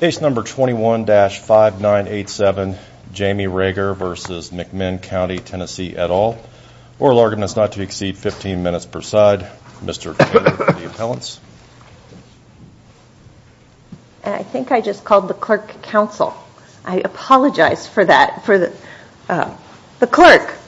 Case number 21-5987, Jaimie Rager v. McMinn County, Tennessee, et al. Oral argument is not to exceed 15 minutes per side. Mr. Taylor for the appellants. I think I just called the clerk counsel. I apologize for that, for the clerk.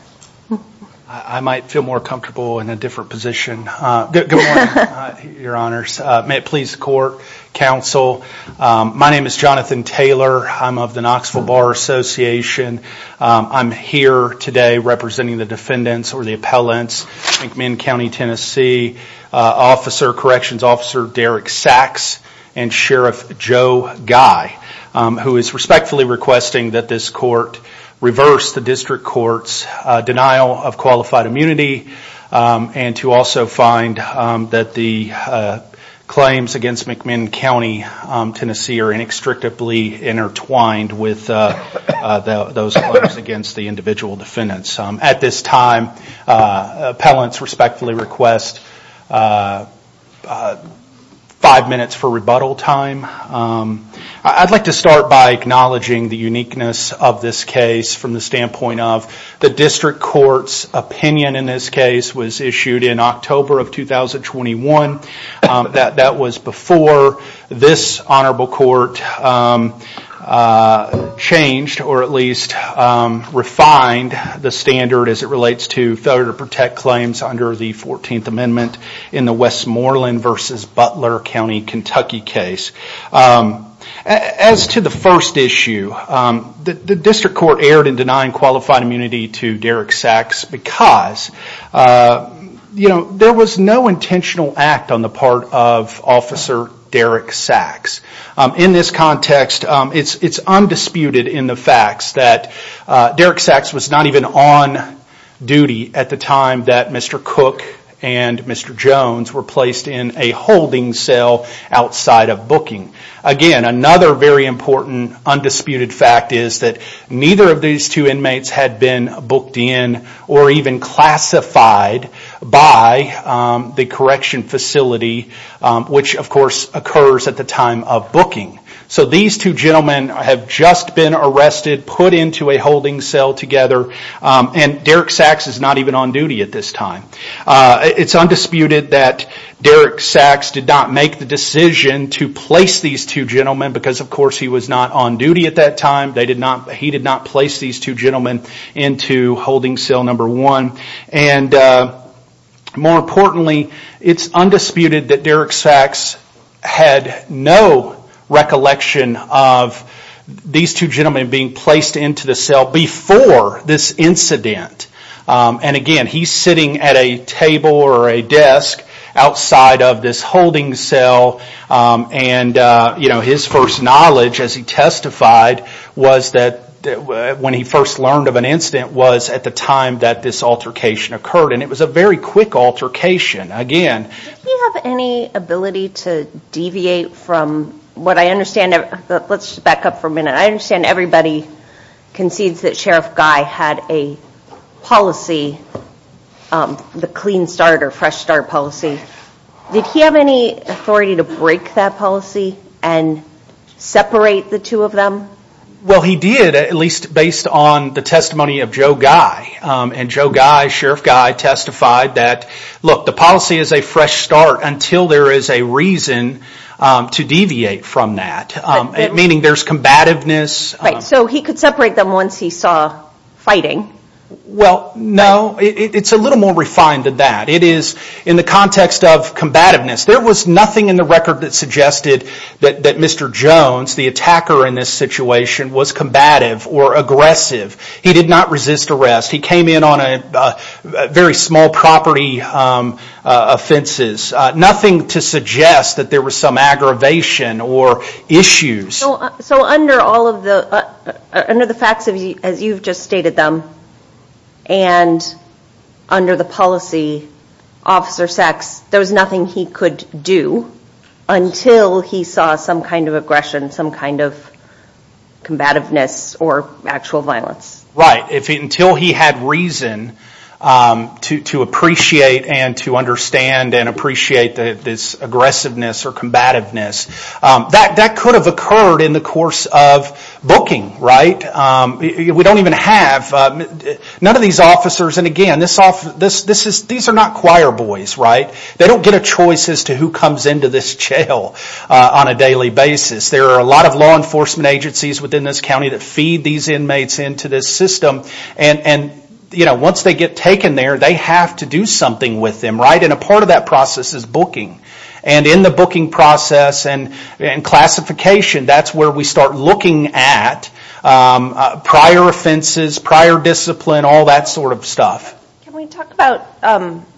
I might feel more comfortable in a different position. Good morning, your honors. May it please the court, counsel. My name is Jonathan Taylor. I'm of the Knoxville Bar Association. I'm here today representing the defendants or the appellants, McMinn County, Tennessee. Officer, corrections officer, Derek Sachs and Sheriff Joe Guy, who is respectfully requesting that this court reverse the district court's denial of qualified immunity. And to also find that the claims against McMinn County, Tennessee are inextricably intertwined with those against the individual defendants. At this time, appellants respectfully request five minutes for rebuttal time. I'd like to start by acknowledging the uniqueness of this case from the standpoint of the district court's opinion in this case was issued in October of 2021. That was before this honorable court changed or at least refined the standard as it relates to failure to protect claims under the 14th amendment in the Westmoreland versus Butler County, Kentucky case. As to the first issue, the district court erred in denying qualified immunity to Derek Sachs because there was no intentional act on the part of Officer Derek Sachs. In this context, it's undisputed in the facts that Derek Sachs was not even on duty at the time that Mr. Cook and Mr. Jones were placed in a holding cell outside of booking. Again, another very important undisputed fact is that neither of these two inmates had been booked in or even classified by the correction facility, which of course occurs at the time of booking. So these two gentlemen have just been arrested, put into a holding cell together, and Derek Sachs is not even on duty at this time. It's undisputed that Derek Sachs did not make the decision to place these two gentlemen because of course he was not on duty at that time. He did not place these two gentlemen into holding cell number one. More importantly, it's undisputed that Derek Sachs had no recollection of these two gentlemen being placed into the cell before this incident. Again, he's sitting at a table or a desk outside of this holding cell and his first knowledge as he testified was that when he first learned of an incident was at the time that this altercation occurred. It was a very quick altercation. Did he have any ability to deviate from what I understand... Let's back up for a minute. I understand everybody concedes that Sheriff Guy had a policy, the clean start or fresh start policy. Did he have any authority to break that policy and separate the two of them? He did, at least based on the testimony of Joe Guy. Joe Guy, Sheriff Guy testified that the policy is a fresh start until there is a reason to deviate from that. Meaning there's combativeness. He could separate them once he saw fighting. No, it's a little more refined than that. It is in the context of combativeness. There was nothing in the record that suggested that Mr. Jones, the attacker in this situation, was combative or aggressive. He did not resist arrest. He came in on a very small property offenses. Nothing to suggest that there was some aggravation or issues. So under the facts as you've just stated them and under the policy, Officer Sachs, there was nothing he could do until he saw some kind of aggression, some kind of combativeness or actual violence. Right, until he had reason to appreciate and to understand and appreciate this aggressiveness or combativeness. That could have occurred in the course of booking, right? We don't even have none of these officers. And again, these are not choir boys, right? They don't get a choice as to who comes into this jail on a daily basis. There are a lot of law enforcement agencies within this county that feed these inmates into this system. And once they get taken there, they have to do something with them, right? And a part of that process is booking. And in the booking process and classification, that's where we start looking at prior offenses, prior discipline, all that sort of stuff. Can we talk about,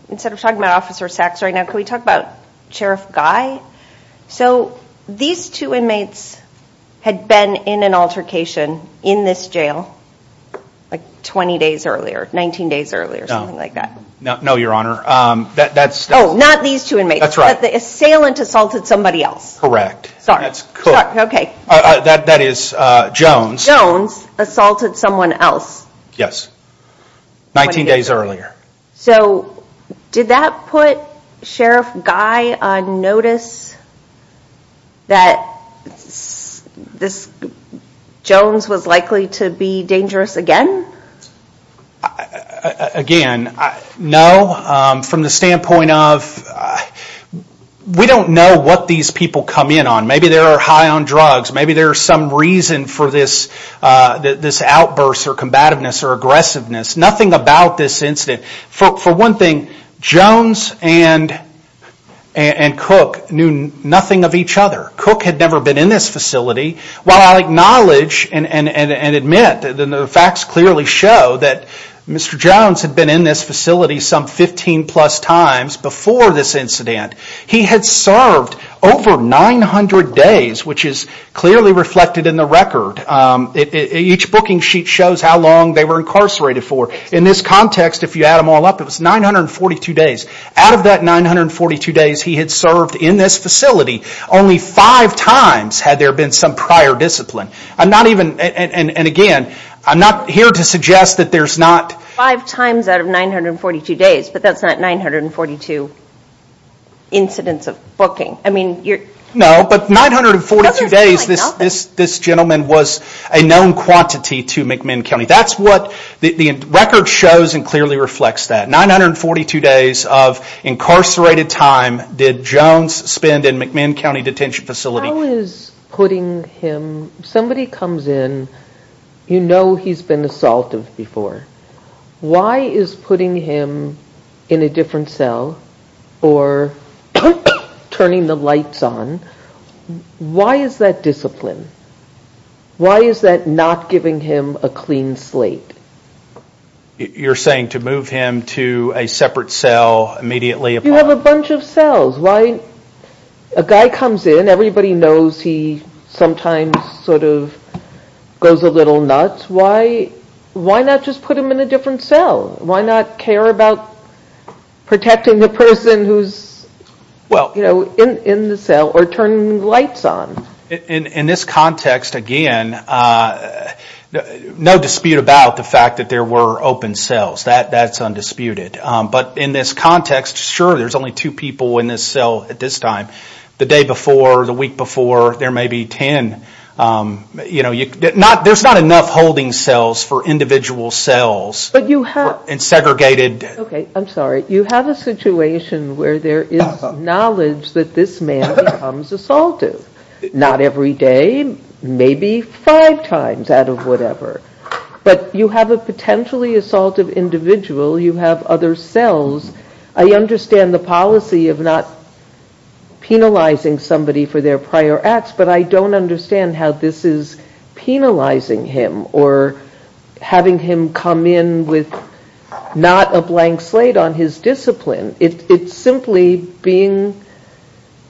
instead of talking about Officer Sachs right now, can we talk about Sheriff Guy? So these two inmates had been in an altercation in this jail like 20 days earlier, 19 days earlier, something like that. No, your honor. Oh, not these two inmates. That's right. The assailant assaulted somebody else. Correct. Sorry. That's correct. Okay. That is Jones. Jones assaulted someone else. Yes. 19 days earlier. So did that put Sheriff Guy on notice that Jones was likely to be dangerous again? Again, no. From the standpoint of, we don't know what these people come in on. Maybe they're high on drugs. Maybe there's some reason for this outburst or combativeness or aggressiveness. Nothing about this incident. For one thing, Jones and Cook knew nothing of each other. Cook had never been in this facility. While I acknowledge and admit that the facts clearly show that Mr. Jones had been in this facility some 15 plus times before this incident, he had served over 900 days, which is clearly reflected in the record. Each booking sheet shows how long they were incarcerated for. In this context, if you add them all up, it was 942 days. Out of that 942 days he had served in this facility, only five times had there been some prior discipline. Again, I'm not here to suggest that there's not... Five times out of 942 days, but that's not 942 incidents of booking. No, but 942 days this gentleman was a known quantity to McMinn County. That's what the record shows and clearly reflects that. 942 days of incarcerated time did Jones spend in McMinn County Detention Facility. How is putting him... Somebody comes in, you know he's been assaulted before. Why is putting him in a different cell or turning the lights on... Why is that discipline? Why is that not giving him a clean slate? You're saying to move him to a separate cell immediately... You have a bunch of cells. A guy comes in, everybody knows he sometimes goes a little nuts. Why not just put him in a different cell? Why not care about protecting the person who's in the cell or turning lights on? In this context, again, no dispute about the fact that there were open cells. That's undisputed. In this context, sure, there's only two people in this cell at this time. The day before, the week before, there may be 10. There's not enough holding cells for individual cells. In segregated... Okay, I'm sorry. You have a situation where there is knowledge that this man becomes assaultive. Not every day. Maybe five times out of whatever. But you have a potentially assaultive individual. You have other cells. I understand the policy of not penalizing somebody for their prior acts, but I don't understand how this is penalizing him or having him come in with not a blank slate on his discipline. It's simply being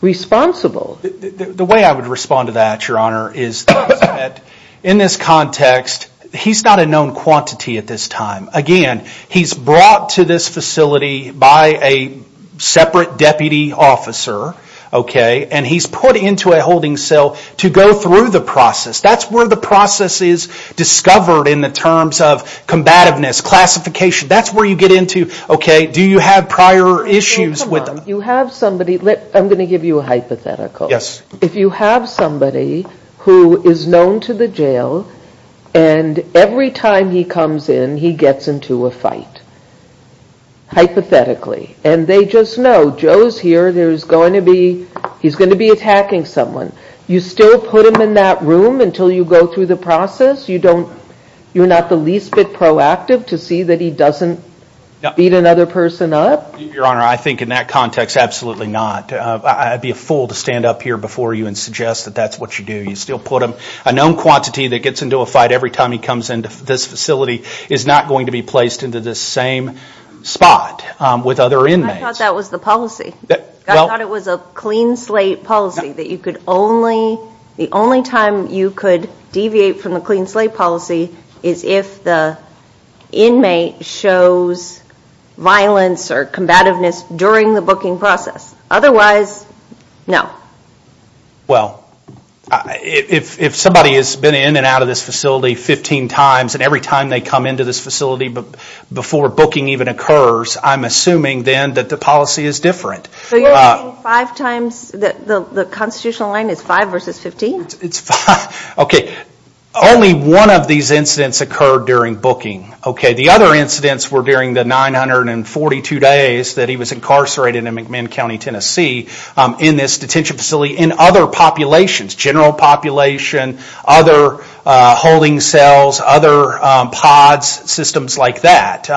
responsible. The way I would respond to that, Your Honor, is that in this context, he's not a known quantity at this time. Again, he's brought to this facility by a separate deputy officer, and he's put into a holding cell to go through the process. That's where the process is discovered in the terms of combativeness, classification. That's where you get into, okay, do you have prior issues with... Okay, come on. You have somebody... I'm going to give you a hypothetical. If you have somebody who is known to the jail, and every time he comes in, he gets into a fight, hypothetically, and they just know, Joe's here, he's going to be attacking someone. You still put him in that room until you go through the process? You're not the least bit proactive to see that he doesn't beat another person up? Your Honor, I think in that context, absolutely not. I'd be a fool to stand up here before you and suggest that that's what you do. You still put him. A known quantity that gets into a fight every time he comes into this facility is not going to be placed into the same spot with other inmates. I thought that was the policy. I thought it was a clean slate policy, that the only time you could deviate from the clean slate policy is if the inmate shows violence or combativeness during the booking process. Otherwise, no. Well, if somebody has been in and out of this facility 15 times, and every time they come into this facility before booking even occurs, I'm assuming then that the policy is different. So you're saying the constitutional line is 5 versus 15? It's 5. Only one of these incidents occurred during booking. The other incidents were during the 942 days that he was incarcerated in McMinn County, Tennessee, in this detention facility, in other populations, general population, other holding cells, other pods, systems like that,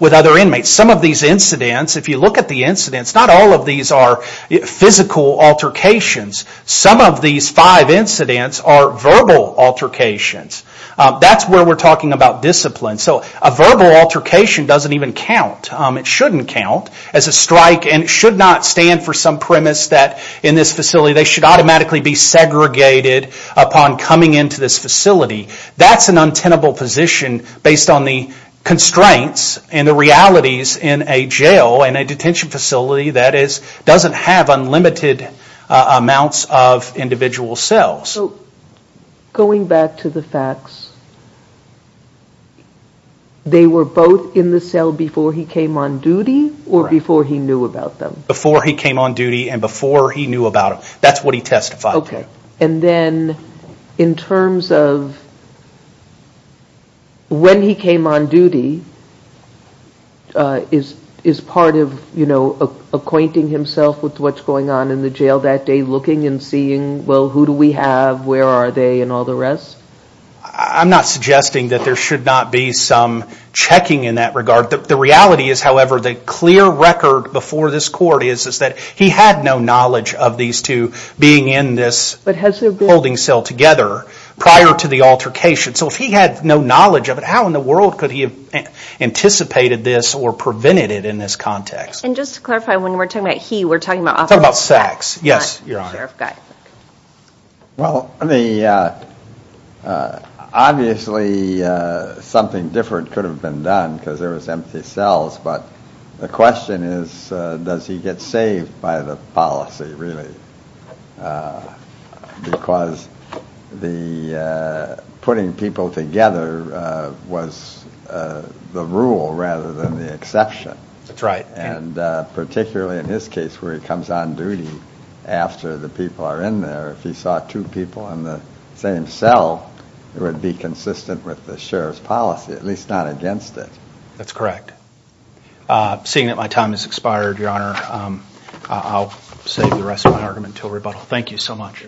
with other inmates. Some of these incidents, if you look at the incidents, not all of these are physical altercations. Some of these five incidents are verbal altercations. That's where we're talking about discipline. A verbal altercation doesn't even count. It shouldn't count as a strike, and it should not stand for some premise that in this facility they should automatically be segregated upon coming into this facility. That's an untenable position based on the constraints and the realities in a jail and a detention facility that doesn't have unlimited amounts of individual cells. Going back to the facts, they were both in the cell before he came on duty or before he knew about them? Before he came on duty and before he knew about them. That's what he testified to. Then in terms of when he came on duty, is part of acquainting himself with what's going on in the jail that day, looking and seeing, well, who do we have, where are they, and all the rest? I'm not suggesting that there should not be some checking in that regard. The reality is, however, the clear record before this court is that he had no knowledge of these two being in this holding cell together prior to the altercation. So if he had no knowledge of it, how in the world could he have anticipated this or prevented it in this context? And just to clarify, when we're talking about he, we're talking about... We're talking about facts. Yes, Your Honor. Well, obviously something different could have been done because there was empty cells. But the question is, does he get saved by the policy, really? Because putting people together was the rule rather than the exception. That's right. And particularly in his case where he comes on duty after the people are in there, if he saw two people in the same cell, it would be consistent with the sheriff's policy, at least not against it. That's correct. Seeing that my time has expired, Your Honor, I'll save the rest of my argument until rebuttal. Thank you so much.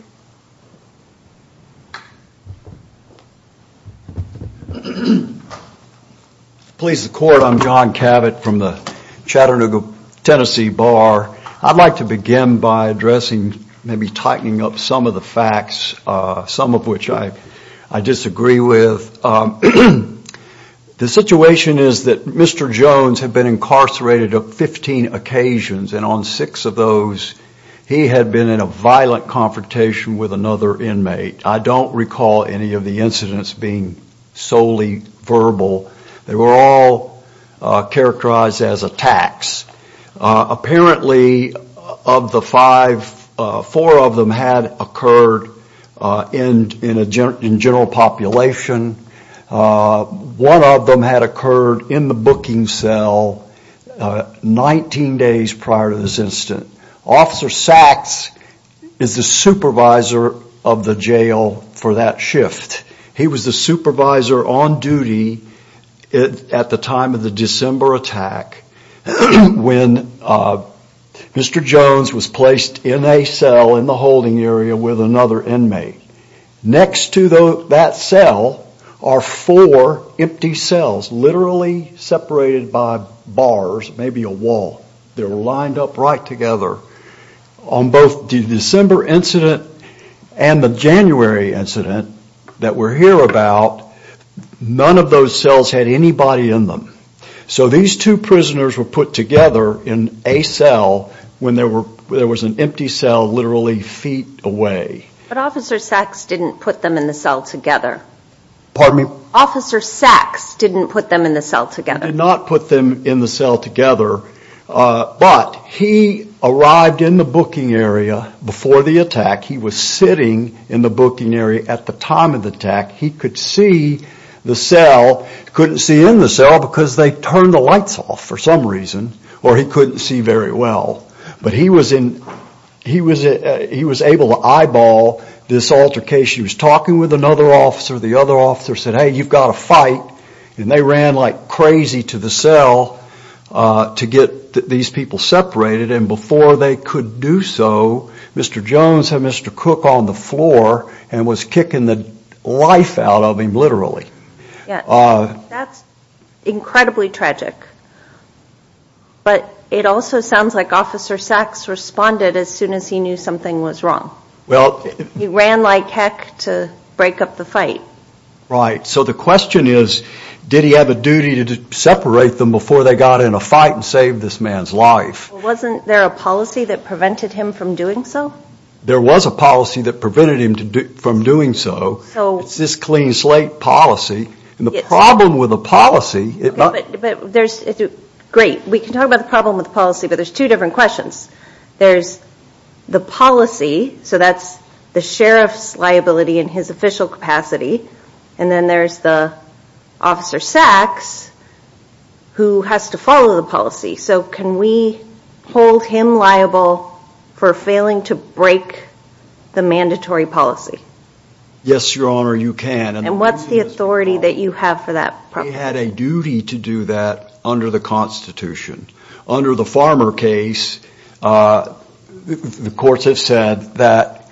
Police and the Court, I'm John Cabot from the Chattanooga, Tennessee Bar. I'd like to begin by addressing, maybe tightening up some of the facts, some of which I disagree with. The situation is that Mr. Jones had been incarcerated on 15 occasions, and on six of those, he had been in a violent confrontation with another inmate. I don't recall any of the incidents being solely verbal. They were all characterized as attacks. Apparently, four of them had occurred in general population. One of them had occurred in the booking cell 19 days prior to this incident. Officer Sachs is the supervisor of the jail for that shift. He was the supervisor on duty at the time of the December attack, when Mr. Jones was placed in a cell in the holding area with another inmate. Next to that cell are four empty cells, literally separated by bars, maybe a wall. They're lined up right together. On both the December incident and the January incident that we're here about, none of those cells had anybody in them. So these two prisoners were put together in a cell when there was an empty cell literally feet away. But Officer Sachs didn't put them in the cell together. He did not put them in the cell together, but he arrived in the booking area before the attack. He was sitting in the booking area at the time of the attack. He couldn't see in the cell because they turned the lights off for some reason, or he couldn't see very well. But he was able to eyeball this altercation. He was talking with another officer. The other officer said, hey, you've got to fight. And they ran like crazy to the cell to get these people separated. And before they could do so, Mr. Jones had Mr. Cook on the floor and was kicking the life out of him literally. That's incredibly tragic. But it also sounds like Officer Sachs responded as soon as he knew something was wrong. He ran like heck to break up the fight. Right. So the question is, did he have a duty to separate them before they got in a fight and saved this man's life? Wasn't there a policy that prevented him from doing so? There was a policy that prevented him from doing so. It's this clean slate policy. Great. We can talk about the problem with the policy, but there's two different questions. There's the policy, so that's the sheriff's liability in his official capacity. And then there's the Officer Sachs who has to follow the policy. So can we hold him liable for failing to break the mandatory policy? Yes, Your Honor, you can. And what's the authority that you have for that? We had a duty to do that under the Constitution. Under the Farmer case, the courts have said that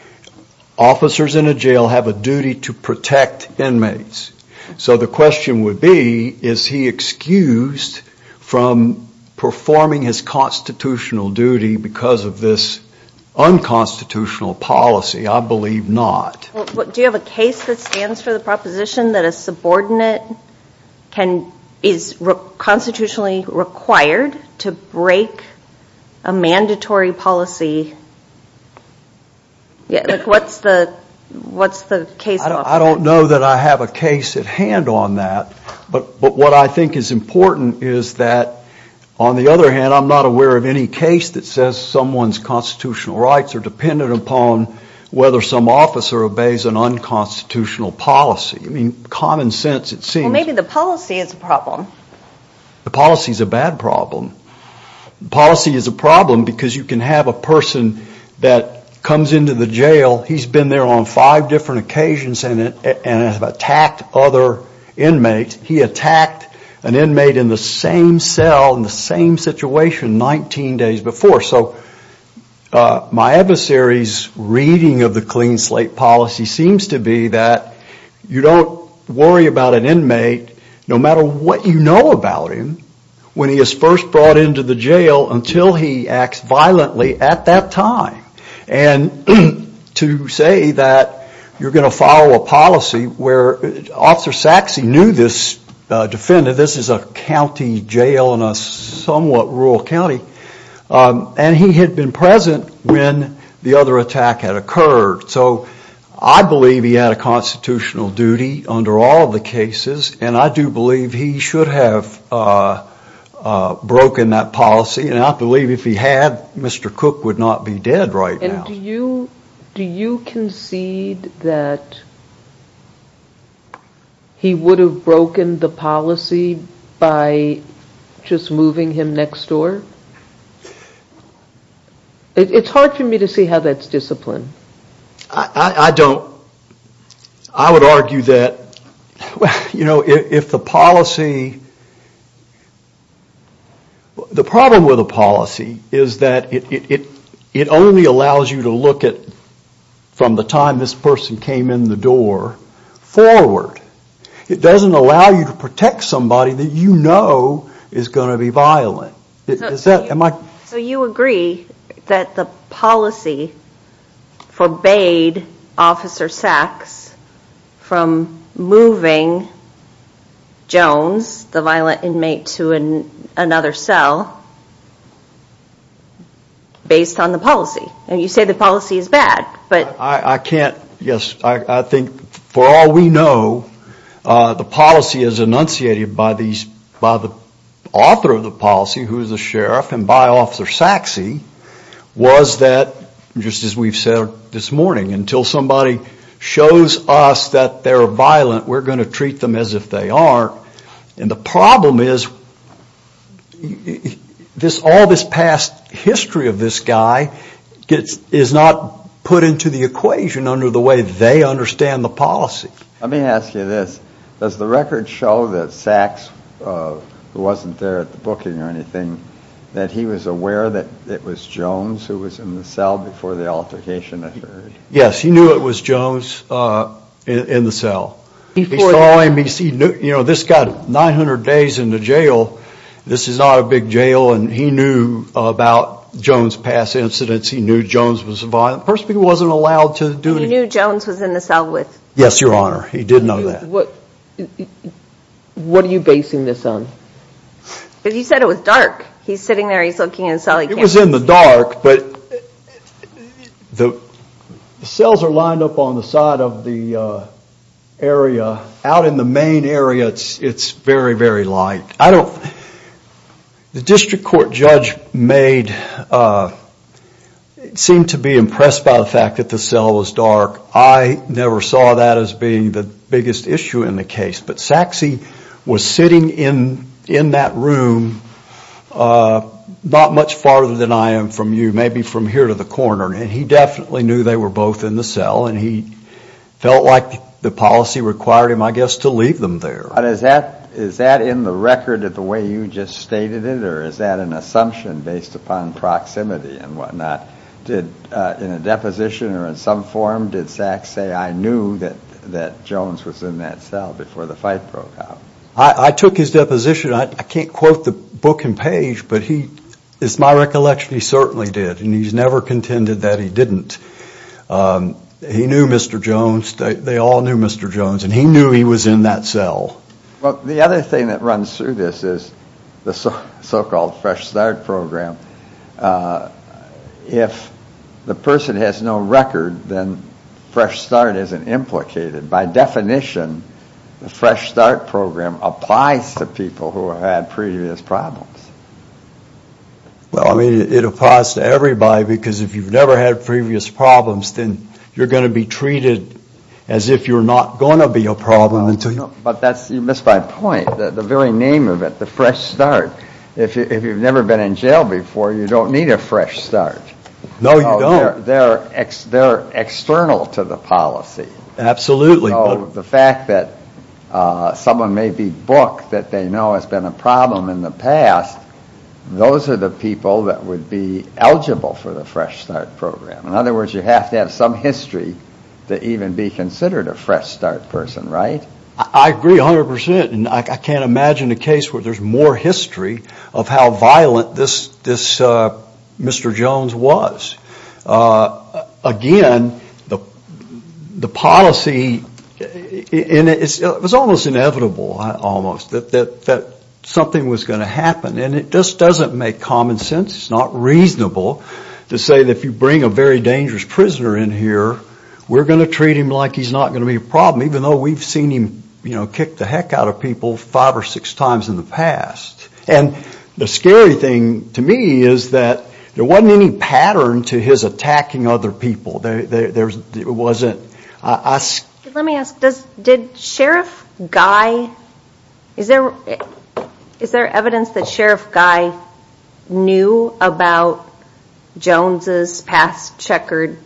officers in a jail have a duty to protect inmates. So the question would be, is he excused from performing his constitutional duty because of this unconstitutional policy? I believe not. Do you have a case that stands for the proposition that a subordinate is constitutionally required to break a mandatory policy? I don't know that I have a case at hand on that, but what I think is important is that, on the other hand, I'm not aware of any case that says someone's constitutional rights are dependent upon whether some officer obeys an unconstitutional policy. I mean, common sense, it seems. Well, maybe the policy is a problem. The policy is a problem because you can have a person that comes into the jail, he's been there on five different occasions and has attacked other inmates. He attacked an inmate in the same cell in the same situation 19 days before. So my adversary's reading of the clean slate policy seems to be that you don't worry about an inmate no matter what you know about him when he is first brought into the jail until he acts violently at that time. And to say that you're going to follow a policy where Officer Saxe knew this defendant, this is a county jail in a somewhat rural county, and he had been present when the other attack had occurred. So I believe he had a constitutional duty under all the cases, and I do believe he should have broken that policy, and I believe if he had, Mr. Cook would not be dead right now. Do you concede that he would have broken the policy by just moving him next door? It's hard for me to see how that's discipline. I don't. I would argue that if the policy, the problem with a policy is that it only allows you to look at from the time this person came in the door forward. It doesn't allow you to protect somebody that you know is going to be violent. So you agree that the policy forbade Officer Saxe from moving Jones, the violent inmate, to another cell based on the policy? You say the policy is bad, but... Yes, I think for all we know, the policy is enunciated by the author of the policy, who is the sheriff, and by example, somebody shows us that they're violent, we're going to treat them as if they aren't, and the problem is all this past history of this guy is not put into the equation under the way they understand the policy. Let me ask you this. Does the record show that Saxe, who wasn't there at the booking or anything, that he was aware that it was Jones who was in the cell before the altercation occurred? Yes, he knew it was Jones in the cell. He saw him. You know, this guy 900 days in the jail, this is not a big jail, and he knew about Jones' past incidents. He knew Jones was a violent person. He wasn't allowed to do... He knew Jones was in the cell with... Yes, Your Honor, he did know that. What are you basing this on? Because you said it was dark. He's sitting there, he's looking in a cell, he can't see. It was in the dark, but the cells are lined up on the side of the area. Out in the main area, it's very, very light. The district court judge seemed to be impressed by the fact that the cell was dark. I never saw that as being the biggest issue in the case, but Saxe was sitting in that room not much farther than I am from you, maybe from here to the corner, and he definitely knew they were both in the cell, and he felt like the policy required him, I guess, to leave them there. Is that in the record the way you just stated it, or is that an assumption based upon proximity and whatnot? In a deposition or in some form, did Saxe say, I knew that Jones was in that cell before the fight broke out? I took his deposition, I can't quote the book and page, but it's my recollection he certainly did, and he's never contended that he didn't. He knew Mr. Jones, they all knew Mr. Jones, and he knew he was in that cell. Well, the other thing that runs through this is the so-called fresh start program. If the person has no record, then fresh start isn't implicated. By definition, the fresh start program applies to people who have had previous problems. Well, I mean, it applies to everybody, because if you've never had previous problems, then you're going to be treated as if you're not going to be a problem until you... But you missed my point. The very name of it, the fresh start, if you've never been in jail before, you don't need a fresh start. No, you don't. They're external to the policy. Absolutely. So the fact that someone may be booked that they know has been a problem in the past, those are the cases where there's more history to even be considered a fresh start person, right? I agree 100%, and I can't imagine a case where there's more history of how violent this Mr. Jones was. Again, the policy, it was almost inevitable, almost, that something was going to happen. And it just doesn't make common sense. If there's a prisoner in here, we're going to treat him like he's not going to be a problem, even though we've seen him kick the heck out of people five or six times in the past. And the scary thing to me is that there wasn't any pattern to his attacking other people. It wasn't... Let me ask, did Sheriff Guy, is there evidence that Sheriff Guy knew about Jones' past checkered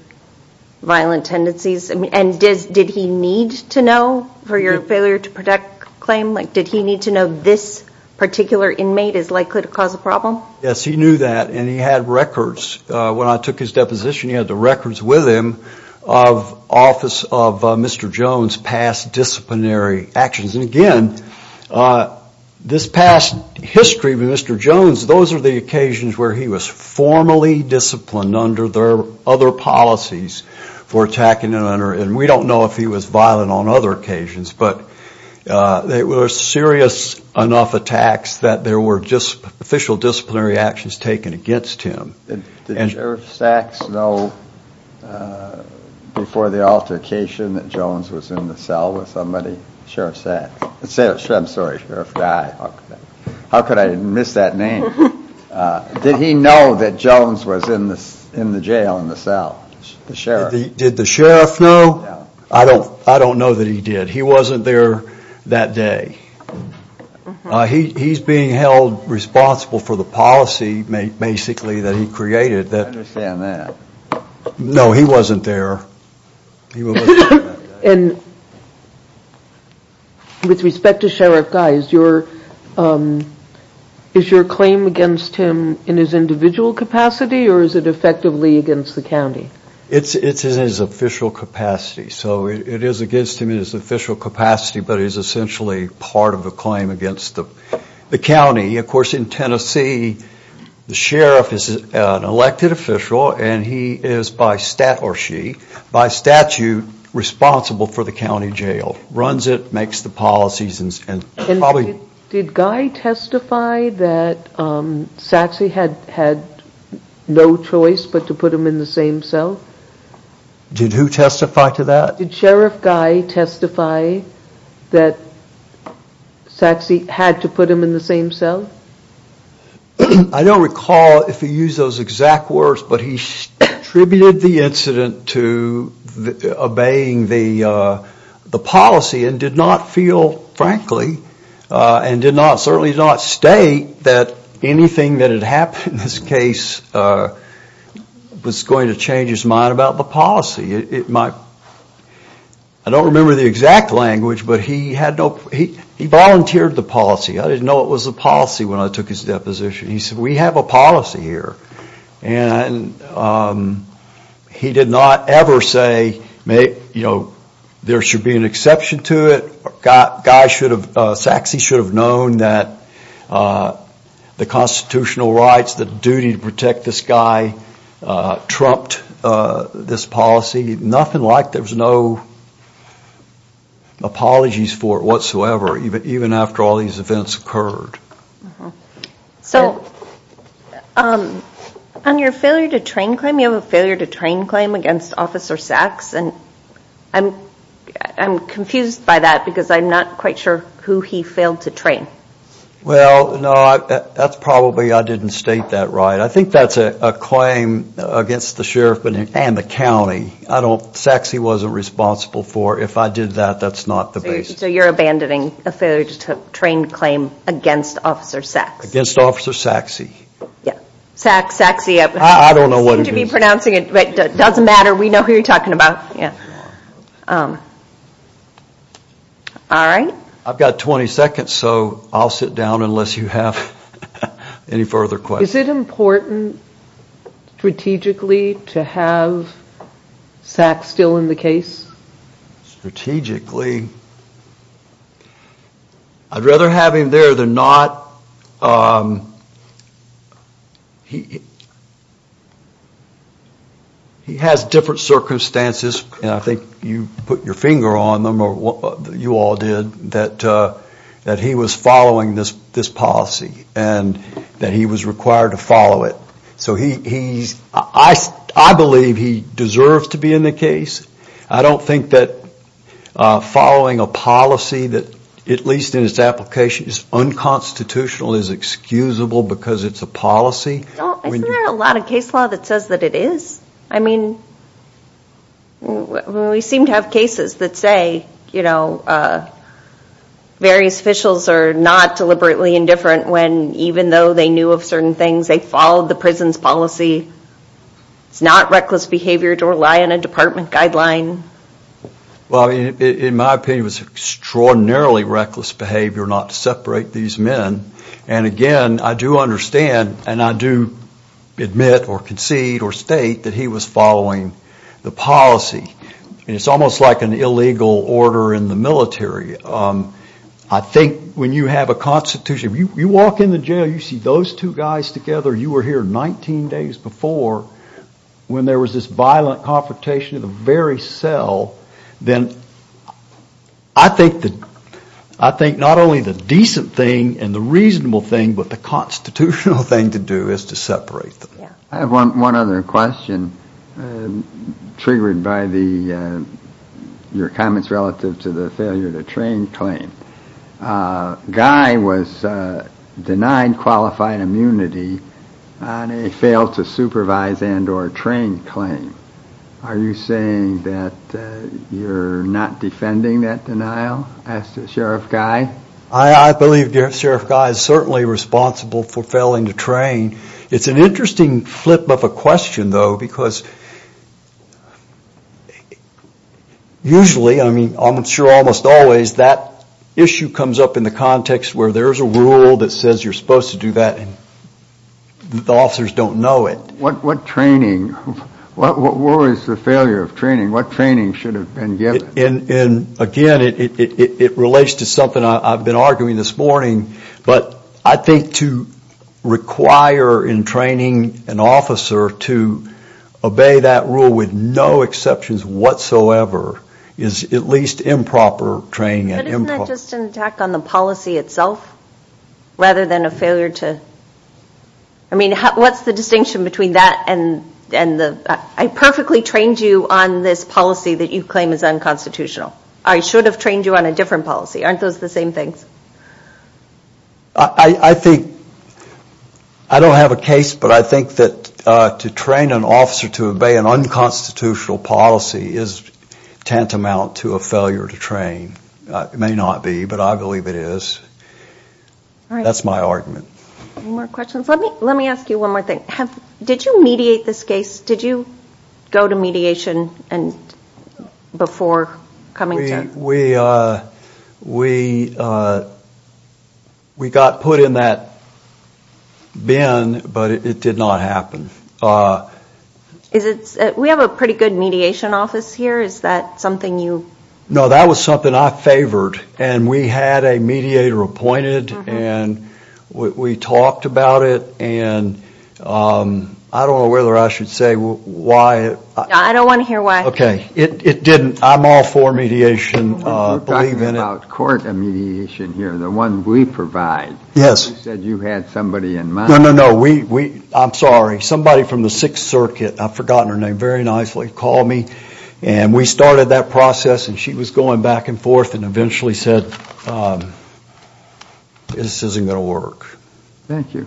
violent tendencies? And did he need to know for your failure to protect claim? Did he need to know this particular inmate is likely to cause a problem? Yes, he knew that, and he had records. When I took his deposition, he had the records with him of Office of Mr. Jones' past disciplinary actions. And again, this past history of Mr. Jones, those are the occasions where he was formally disciplined under their other policies for attacking an inmate. And we don't know if he was violent on other occasions, but there were serious enough attacks that there were just official disciplinary actions taken against him. Did Sheriff Sachs know before the altercation that Jones was in the cell with somebody? Sheriff Sachs. I'm sorry, Sheriff Guy. How could I miss that name? Did he know that Jones was in the jail in the cell? Did the sheriff know? I don't know that he did. He wasn't there that day. He's being held responsible for the policy basically that he created. I understand that. No, he wasn't there. He wasn't there that day. And with respect to Sheriff Guy, is your claim against him in his individual capacity, or is it effectively against the county? It's in his official capacity. So it is against him in his official capacity, but it is essentially part of the claim against the county. Of course in Tennessee, the sheriff is an elected official and he is by statute responsible for the county jail. Runs it, makes the policies. Did Guy testify that Sachs had no choice but to put him in the same cell? Did who testify to that? Did Sheriff Guy testify that Sachs had to put him in the same cell? I don't recall if he used those exact words, but he attributed the incident to obeying the policy and did not feel frankly, and certainly did not state that anything that had happened in this case was going to change his mind about the policy. I don't remember the exact language, but he volunteered the policy. I didn't know it was the policy when I took his deposition. He said we have a policy here. And he did not ever say there should be an exception to it. Sachs should have known that the constitutional rights, the duty to protect this guy trumped this policy. Nothing like there was no apologies for it whatsoever, even after all these events occurred. On your failure to train claim, you have a failure to train claim against Officer Sachs. I'm confused by that because I'm not quite sure who he failed to train. I didn't state that right. I think that's a claim against the Sheriff and the County. Sachs wasn't responsible for it. If I did that, that's not the basis. So you're abandoning a failure to train claim against Officer Sachs? Against Officer Sachs. It doesn't matter. We know who you're talking about. I've got 20 seconds, so I'll sit down unless you have any further questions. Is it important strategically to have Sachs still in the case? Strategically? I'd rather have him there than not. He has different circumstances, and I think you put your finger on them, or you all did, that he was following this policy and that he was required to follow it. I believe he deserves to be in the case. I don't think following a policy that, at least in its application, is unconstitutional is excusable because it's a policy. Isn't there a lot of case law that says that it is? We seem to have cases that say various officials are not deliberately indifferent when, even though they knew of certain things, they followed the prison's policy. It's not reckless behavior to rely on a department guideline. In my opinion, it was extraordinarily reckless behavior not to separate these men. And again, I do understand, and I do admit or concede or state that he was following the policy. It's almost like an illegal order in the military. I think when you have a constitution, you walk in the jail, you see those two guys together, you were here 19 days before when there was this violent confrontation in the very cell, then I think not only the decent thing and the reasonable thing, but the constitutional thing to do is to separate them. I have one other question triggered by your comments relative to the failure to train claim. Guy was denied qualified immunity on a fail-to-supervise-and-or-train claim. Are you saying that you're not defending that denial, asked Sheriff Guy? I believe Sheriff Guy is certainly responsible for failing to train. It's an interesting flip of a question, though, because usually, I mean, I'm sure almost always, that issue comes up in the context where there's a rule that says you're supposed to do that and the officers don't know it. What training, where is the failure of training? What training should have been given? Again, it relates to something I've been arguing this morning, but I think to require in training an officer to obey that rule with no exceptions whatsoever is at least improper training. Isn't that just an attack on the policy itself rather than a failure to, I mean, what's the distinction between that and the, I perfectly trained you on this policy that you claim is unconstitutional. I should have trained you on a different policy. Aren't those the same things? I don't have a case, but I think that to train an officer to obey an unconstitutional policy is tantamount to a failure to train. It may not be, but I believe it is. That's my argument. Any more questions? Let me ask you one more thing. Did you mediate this case? Did you go to mediation before coming to it? We got put in that bin, but it did not happen. We have a pretty good mediation office here. No, that was something I favored, and we had a mediator appointed, and we talked about it, and I don't know whether I should say why. I don't want to hear why. I'm all for mediation. We're talking about court mediation here, the one we had. Somebody from the Sixth Circuit, I've forgotten her name very nicely, called me, and we started that process, and she was going back and forth and eventually said this isn't going to work. Thank you.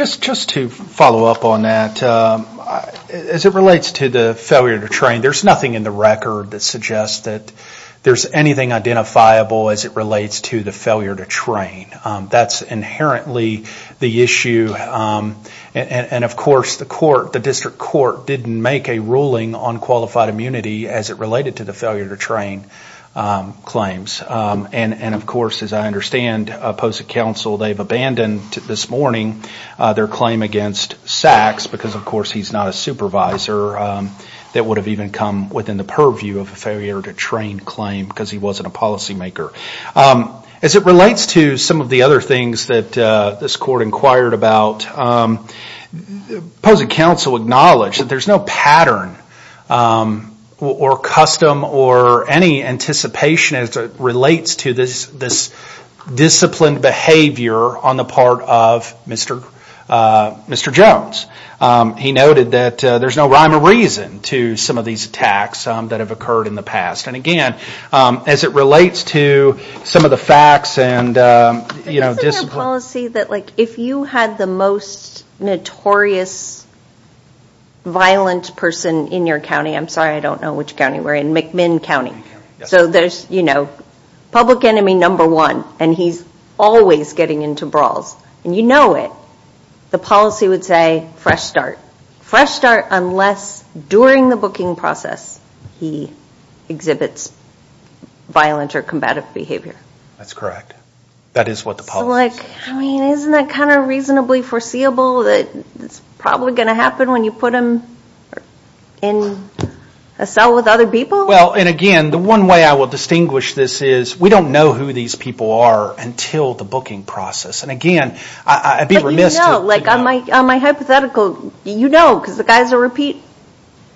Just to follow up on that, as it relates to the failure to train, there's nothing in the record that suggests that there's anything identifiable as it relates to the failure to train. That's inherently the issue, and of course the court, the district court, didn't make a ruling on qualified immunity as it related to the failure to train claims. And of course, as I understand, Postal Council, they've abandoned this morning their claim against Sachs, because of course he's not a supervisor that would have even come within the purview of a failure to train claim, because he wasn't a policymaker. As it relates to some of the other things that this court inquired about, Postal Council acknowledged that there's no pattern or custom or any anticipation as it relates to this disciplined behavior on the part of Mr. Jones. He noted that there's no rhyme or reason to some of these attacks that have occurred in the past. And again, as it relates to some of the facts and discipline... If you had the most notorious violent person in your county, I'm sorry, I don't know which county. We're in McMinn County. So there's public enemy number one, and he's always getting into brawls. And you know it. The policy would say, fresh start. Fresh start unless during the booking process he exhibits violent or combative behavior. That's correct. That is what the policy says. Isn't that kind of reasonably foreseeable that it's probably going to happen when you put him in a cell with other people? Well, and again, the one way I will distinguish this is we don't know who these people are until the booking process. And again, I'd be remiss to... You know, because the guy's a repeat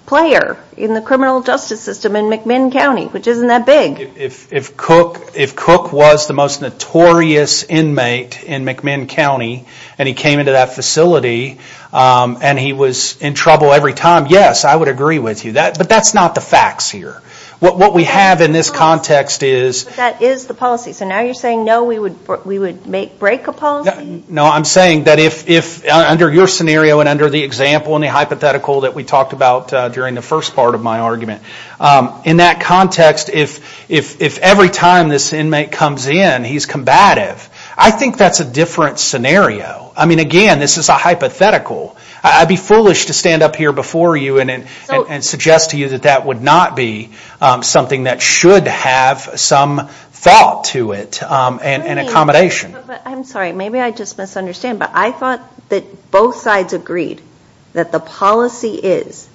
player in the criminal justice system in McMinn County, which isn't that big. If Cook was the most notorious inmate in McMinn County and he came into that facility and he was in trouble every time, yes, I would agree with you. But that's not the facts here. What we have in this context is... But that is the policy. So now you're saying no, we would break a policy? No, I'm saying that under your scenario and under the example and the hypothetical that we talked about during the first part of my argument. In that context, if every time this inmate comes in, he's combative, I think that's a different scenario. I mean, again, this is a hypothetical. I'd be foolish to stand up here before you and suggest to you that that would not be something that should have some thought to it and accommodation. But I'm sorry, maybe I just misunderstand, but I thought that both sides agreed that the policy is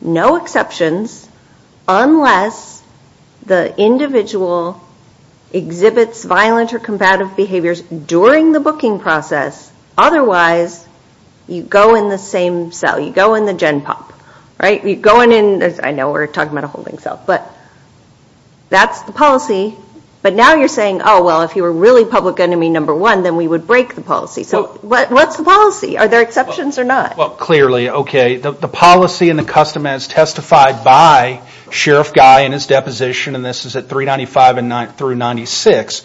no exceptions unless the individual exhibits violent or combative behaviors during the booking process. Otherwise, you go in the same cell, you go in the gen pop, right? You go in... I know we're talking about a holding cell, but that's the policy. But now you're saying, oh, well, if you were really public enemy number one, then we would break the policy. So what's the policy? Are there exceptions or not? Well, clearly, okay, the policy and the custom as testified by Sheriff Guy in his deposition, and this is at 395 through 96,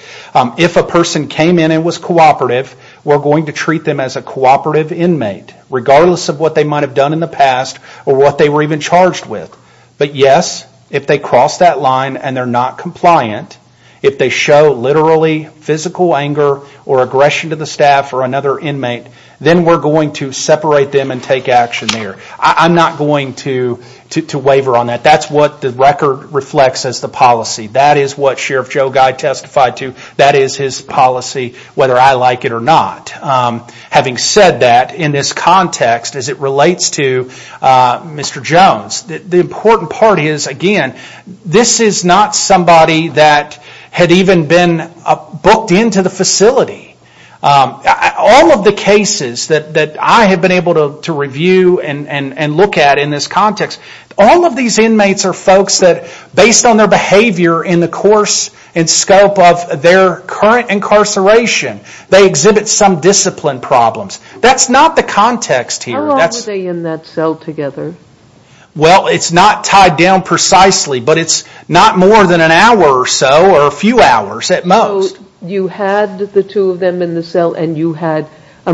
if a person came in and was cooperative, we're going to treat them as a cooperative inmate, regardless of what they might have done in the past or what they were even charged with. But yes, if they cross that line and they're not compliant, if they show literally physical anger or aggression to the staff or another inmate, then we're going to separate them and take action there. I'm not going to waver on that. That's what the record reflects as the policy. That is what Sheriff Joe Guy testified to. That is his policy, whether I like it or not. Having said that, in this context, as it relates to Mr. Jones, the important part is, again, this is not somebody that had even been booked into the facility. All of the cases that I have been able to review and look at in this context, all of these inmates are folks that, based on their behavior in the course and scope of their current incarceration, they exhibit some discipline problems. That's not the context here. Well, it's not tied down precisely, but it's not more than an hour or so or a few hours at most. I'm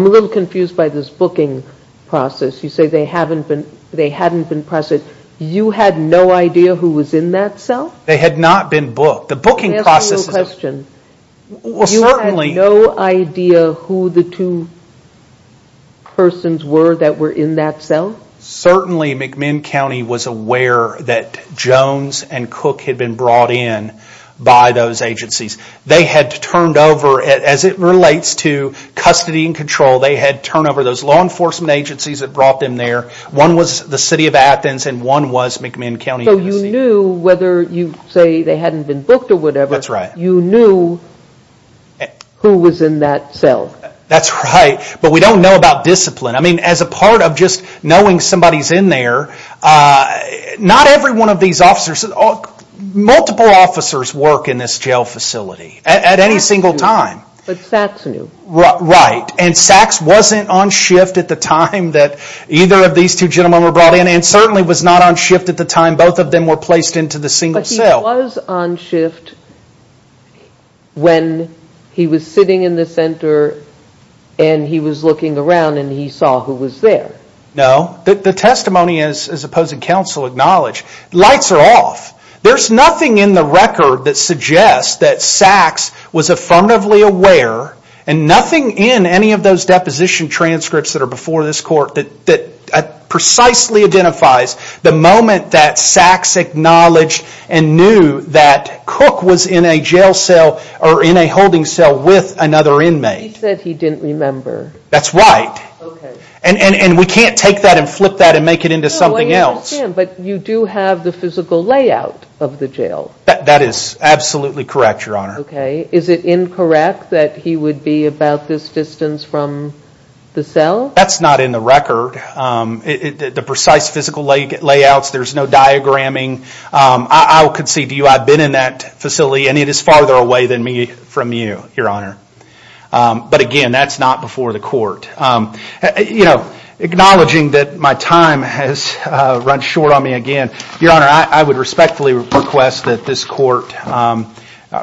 a little confused by this booking process. You say they hadn't been in that cell? You had no idea who the two persons were that were in that cell? Certainly, McMinn County was aware that Jones and Cook had been brought in by those agencies. They had turned over, as it relates to custody and control, they had turned over those law enforcement agencies that brought them there. One was the City of Athens and one was McMinn County. So you knew, whether you say they hadn't been booked or whatever, you knew who was in that cell? That's right, but we don't know about discipline. As a part of just knowing somebody is in there, not every one of these officers, multiple officers work in this jail facility at any single time. And Sachs wasn't on shift at the time that either of these two gentlemen were brought in, and certainly was not on shift at the time both of them were placed into the single cell. But he was on shift when he was sitting in the center and he was looking around and he saw who was there. No, the testimony as opposed to counsel acknowledged, lights are off. There's nothing in the record that suggests that Sachs was affirmatively aware and nothing in any of those deposition transcripts that are before this court that precisely identifies the moment that Sachs acknowledged and knew that Cook was in a jail cell or in a holding cell with another inmate. He said he didn't remember. And we can't take that and flip that and make it into something else. But you do have the physical layout of the jail. Is it incorrect that he would be about this distance from the cell? That's not in the record. The precise physical layouts, there's no diagramming. I'll concede to you I've been in that facility and it is farther away than me from you, Your Honor. But again, that's not before the court. Acknowledging that my time has run short on me again, Your Honor, I would respectfully request that this court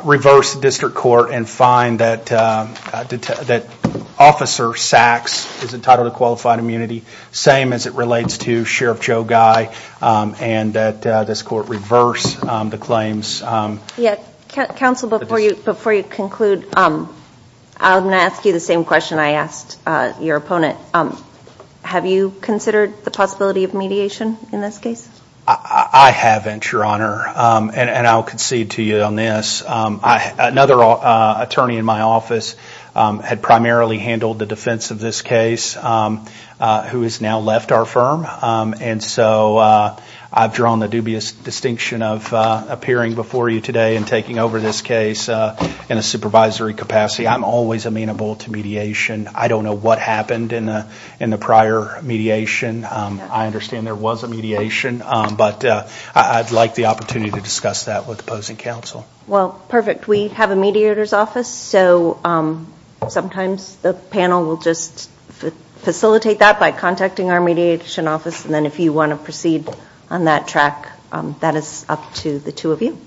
reverse the district court and find that Officer Sachs is entitled to qualified immunity, the same as it relates to Sheriff Joe Guy, and that this court reverse the claims. Counsel, before you conclude, I'm going to ask you the same question I asked your opponent. Have you considered the possibility of mediation in this case? I haven't, Your Honor, and I'll concede to you on this. Another attorney in my office had primarily handled the defense of this case, who has now left our firm, and so I've drawn the dubious distinction of appearing before you today and taking over this case in a supervisory capacity. I'm always amenable to mediation. I don't know what happened in the prior mediation. I understand there was a mediation, but I'd like the opportunity to discuss that with opposing counsel. Well, perfect. We have a mediator's office, so sometimes the panel will just facilitate that by contacting our mediation office, and then if you want to proceed on that track, that is up to the two of you.